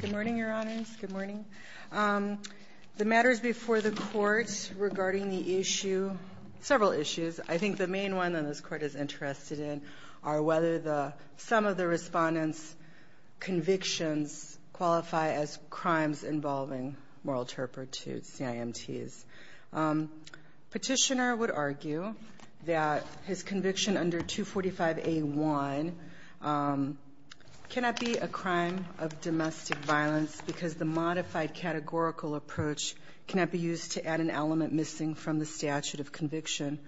Good morning, your honors. Good morning. The matters before the court regarding the issue, several issues, I think the main one that this court is interested in are whether the some of the respondents convictions qualify as crimes involving moral turpor to CIMTs. Petitioner would argue that his conviction under 245a-1 cannot be a crime of domestic violence because the modified categorical approach cannot be used to add an element missing from the statute of conviction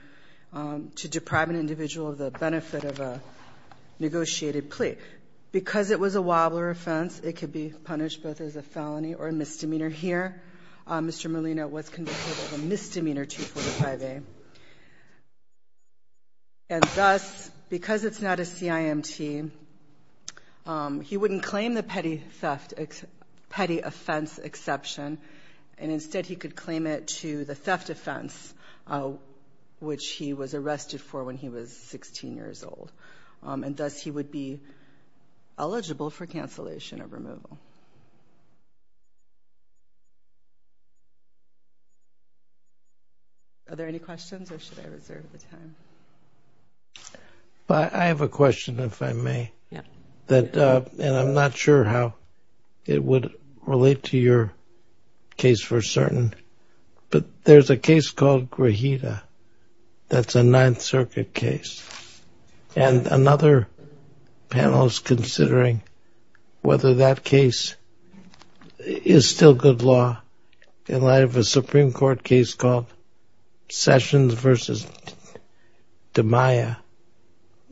to deprive an individual of the benefit of a negotiated plea. Because it was a wobbler offense, it could be punished both as a felony or a misdemeanor. Here, Mr. Molina was convicted of a misdemeanor 245a. And thus, because it's not a CIMT, he wouldn't claim the petty theft, petty offense exception, and instead he could claim it to the theft offense, which he was arrested for when he was 16 years old. And thus, he would be eligible for cancellation of removal. Are there any questions or should I reserve the time? I have a question if I may. And I'm not sure how it would relate to your case for certain, but there's a case called Grajeda that's a Ninth Circuit case. And another panel is considering whether that case is still good law in light of a Supreme Court case called Sessions v. DiMaia.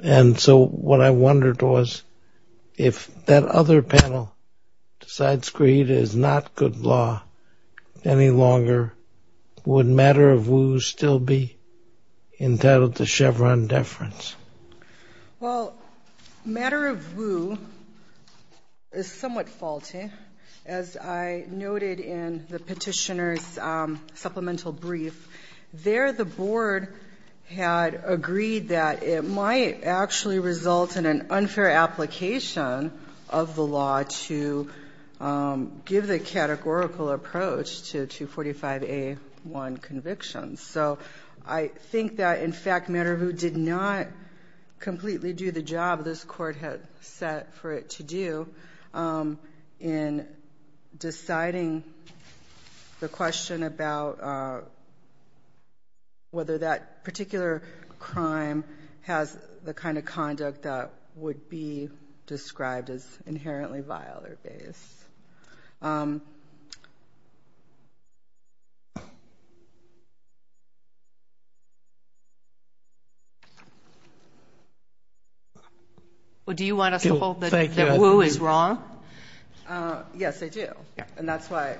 And so what I wondered was if that other panel decides Grajeda is not good law any longer, would Matter of Woo still be entitled to Chevron deference? Well, Matter of Woo is somewhat faulty. As I noted in the petitioner's supplemental brief, there the board had agreed that it might actually result in an unfair application of the law to give the categorical approach to 245A1 convictions. So I think that, in fact, Matter of Woo did not completely do the job this Court had set for it to do in deciding the question about whether that particular crime has the kind of conduct that would be described as inherently vile or base. Well, do you want us to hold that Woo is wrong? Yes, I do. And that's why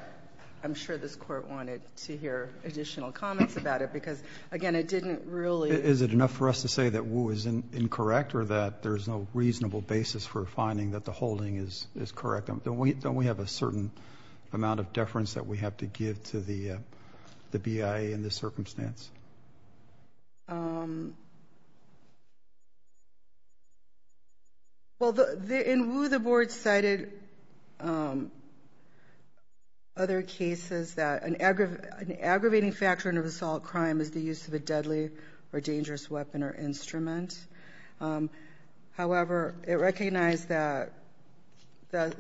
I'm sure this Court wanted to hear additional comments about it because, again, it didn't really... Is it enough for us to say that Woo is incorrect or that there's no reasonable basis for finding that the holding is correct? Don't we have a certain amount of deference that we have to give to the BIA in this circumstance? Well, in Woo, the board cited other cases that an aggravating factor in an assault crime is the use of a deadly or dangerous weapon or instrument. However, it recognized that a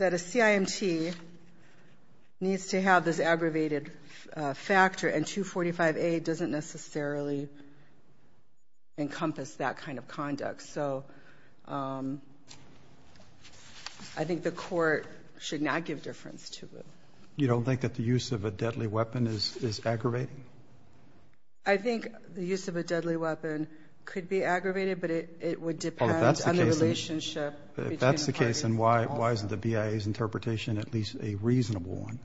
CIMT needs to have this aggravated factor, and 245A doesn't necessarily encompass that kind of conduct. So I think the Court should not give deference to Woo. You don't think that the use of a deadly weapon is aggravating? I think the use of a deadly weapon could be aggravated, but it would depend on the relationship between the parties involved. If that's the case, then why isn't the BIA's interpretation at least a reasonable one?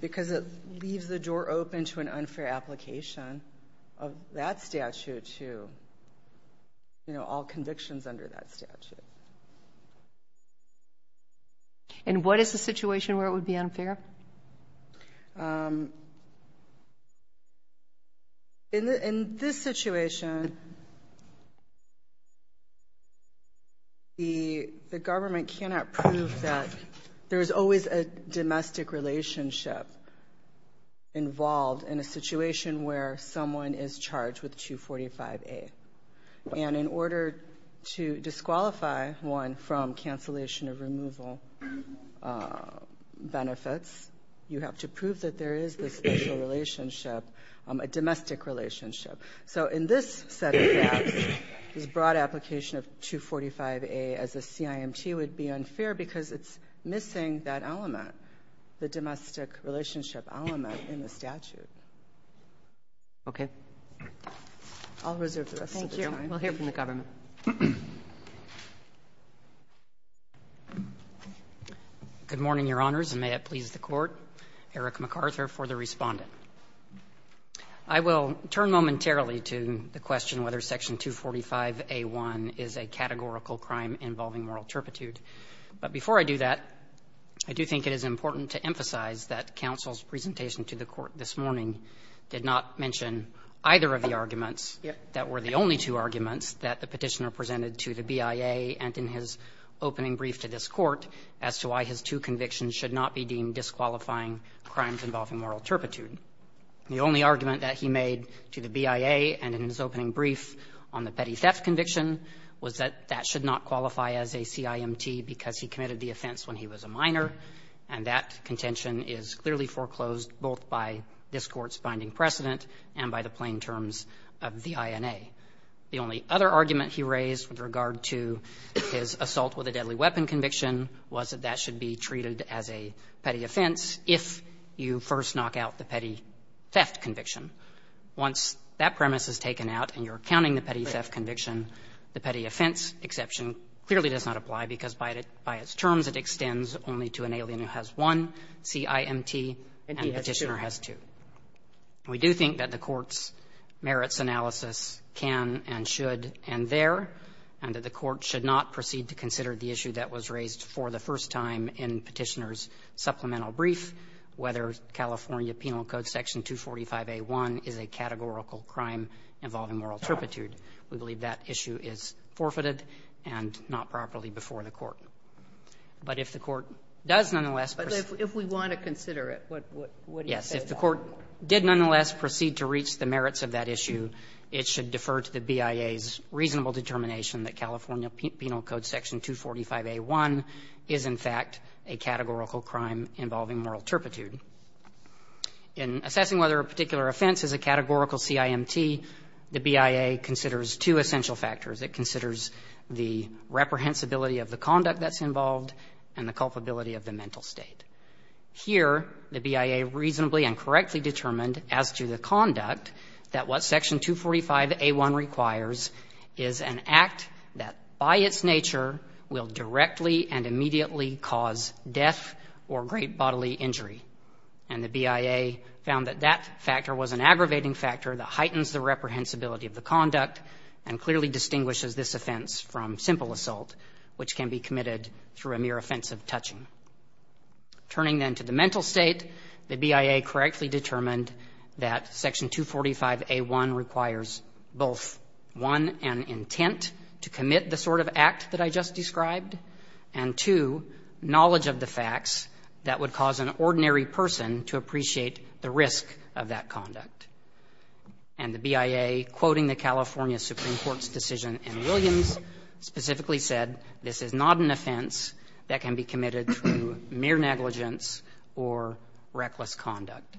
Because it leaves the door open to an unfair application of that statute to, you know, all convictions under that statute. And what is the situation where it would be unfair? In this situation, the government cannot prove that there's always a domestic relationship involved in a situation where someone is charged with 245A. And in order to disqualify one from cancellation of removal benefits, you have to prove that there is this special relationship, a domestic relationship. So in this set of gaps, this broad application of 245A as a CIMT would be unfair because it's missing that element, the domestic relationship element in the statute. Okay. I'll reserve the rest of the time. Thank you. We'll hear from the government. Good morning, Your Honors, and may it please the Court. Eric McArthur for the Respondent. I will turn momentarily to the question whether Section 245A1 is a categorical crime involving moral turpitude. But before I do that, I do think it is important to emphasize that counsel's presentation to the Court this morning did not mention either of the arguments that were the only two arguments that the Petitioner presented to the BIA and in his opening brief to this Court as to why his two convictions should not be deemed disqualifying crimes involving moral turpitude. The only argument that he made to the BIA and in his opening brief on the petty theft conviction was that that should not qualify as a CIMT because he committed the offense when he was a minor, and that contention is clearly foreclosed both by this Court's binding precedent and by the plain terms of the INA. The only other argument he raised with regard to his assault with a deadly weapon conviction was that that should be treated as a petty offense if you first knock out the petty theft conviction. Once that premise is taken out and you're counting the petty theft conviction, the petty offense exception clearly does not apply because by its terms it extends only to an alien who has one CIMT and the Petitioner has two. And we do think that the Court's merits analysis can and should end there, and that the Court should not proceed to consider the issue that was raised for the first time in Petitioner's supplemental brief, whether California Penal Code Section 245a1 is a categorical crime involving moral turpitude. We believe that issue is forfeited and not properly before the Court. But if the Court does nonetheless proceed to reach the merits of that issue, it should In assessing whether a particular offense is a categorical CIMT, the BIA considers two essential factors. It considers the reprehensibility of the conduct that's involved and the culpability of the mental state. Here, the BIA reasonably and correctly determined as to the conduct that what Section 245a1 requires both one and intent to commit the sort of offense that is a CIMT, and the BIA found that that was an aggravating factor that heightens the reprehensibility of the conduct and clearly distinguishes this offense from simple assault, which can be committed through a mere offense of touching. Turning then to the mental state, the BIA correctly determined that Section 245a1 requires both one, an intent to commit the sort of act that I just described, and two, knowledge of the facts that would cause an ordinary person to appreciate the risk of that conduct. And the BIA, quoting the California Supreme Court's decision in Williams, specifically said this is not an offense that can be committed through mere negligence or reckless conduct.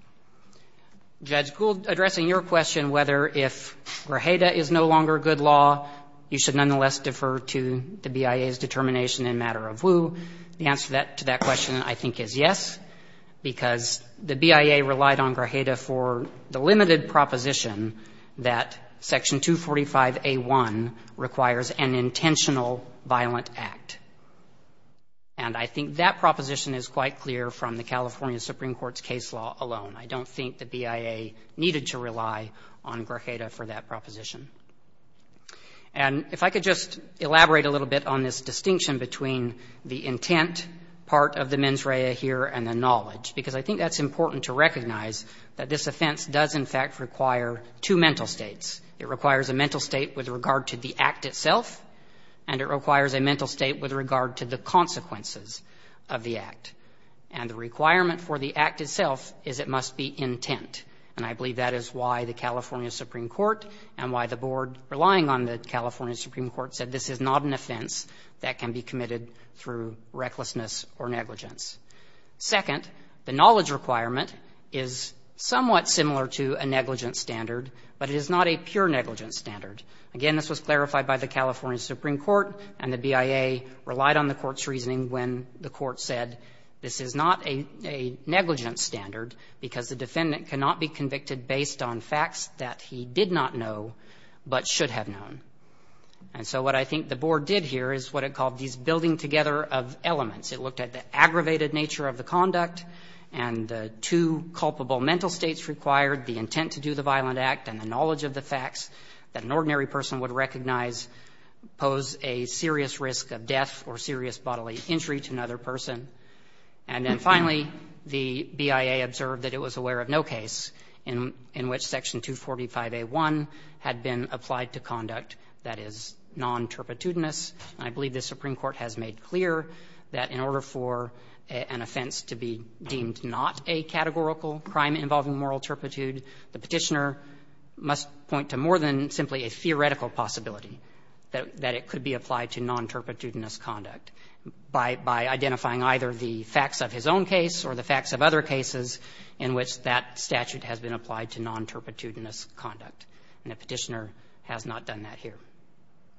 Judge Gould, addressing your question whether if Grajeda is no longer good law, you should nonetheless defer to the BIA's determination in matter of who, the answer to that question I think is yes, because the BIA relied on Grajeda for the limited proposition that Section 245a1 requires an intentional violent act. And I think that proposition is quite clear from the California Supreme Court's case law alone. I don't think the BIA needed to rely on Grajeda for that proposition. And if I could just elaborate a little bit on this distinction between the intent part of the mens rea here and the knowledge, because I think that's important to recognize that this offense does in fact require two mental states. It requires a mental state with regard to the act itself, and it requires a mental state with regard to the consequences of the act. And the requirement for the act itself is it must be intent. And I believe that is why the California Supreme Court and why the Board, relying on the California Supreme Court, said this is not an offense that can be committed through recklessness or negligence. Second, the knowledge requirement is somewhat similar to a negligence standard, but it is not a pure negligence standard. Again, this was clarified by the California Supreme Court, and the BIA relied on the fact that the court said this is not a negligence standard, because the defendant cannot be convicted based on facts that he did not know, but should have known. And so what I think the Board did here is what it called these building-together of elements. It looked at the aggravated nature of the conduct and the two culpable mental states required, the intent to do the violent act and the knowledge of the facts that an ordinary person would recognize pose a serious risk of death or serious bodily injury to another person. And then finally, the BIA observed that it was aware of no case in which Section 245a1 had been applied to conduct that is non-terpitudinous. And I believe the Supreme Court has made clear that in order for an offense to be deemed not a categorical crime involving moral turpitude, the Petitioner must point to more than simply a theoretical possibility that it could be applied to non-terpitudinous conduct by identifying either the facts of his own case or the facts of other cases in which that statute has been applied to non-terpitudinous conduct. And the Petitioner has not done that here.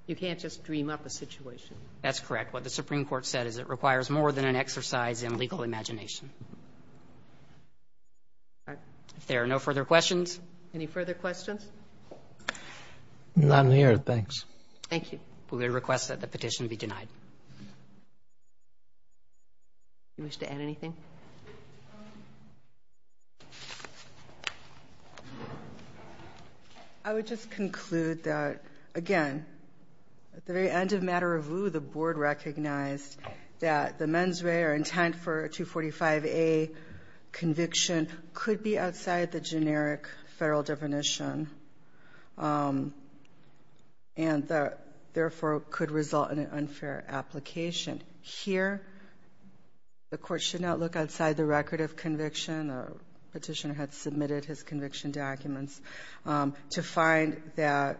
You can't just dream up a situation. That's correct. What the Supreme Court said is it requires more than an exercise in legal imagination. If there are no further questions. Any further questions? None here. Thanks. Thank you. We request that the petition be denied. Do you wish to add anything? I would just conclude that, again, at the very end of Matter of View, the Board recognized that the mens rea or intent for 245a conviction could be outside the generic federal definition and, therefore, could result in an unfair application. Here, the Court should not look outside the record of conviction. The Petitioner had submitted his conviction documents to find that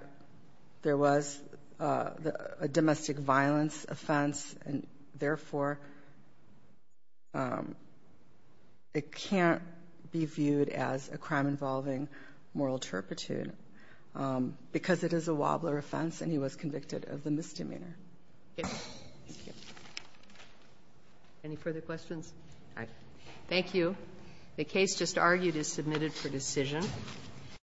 there was a domestic violence offense and, therefore, it can't be viewed as a crime involving moral turpitude because it is a wobbler offense and he was convicted of the misdemeanor. Any further questions? Thank you. The case just argued is submitted for decision.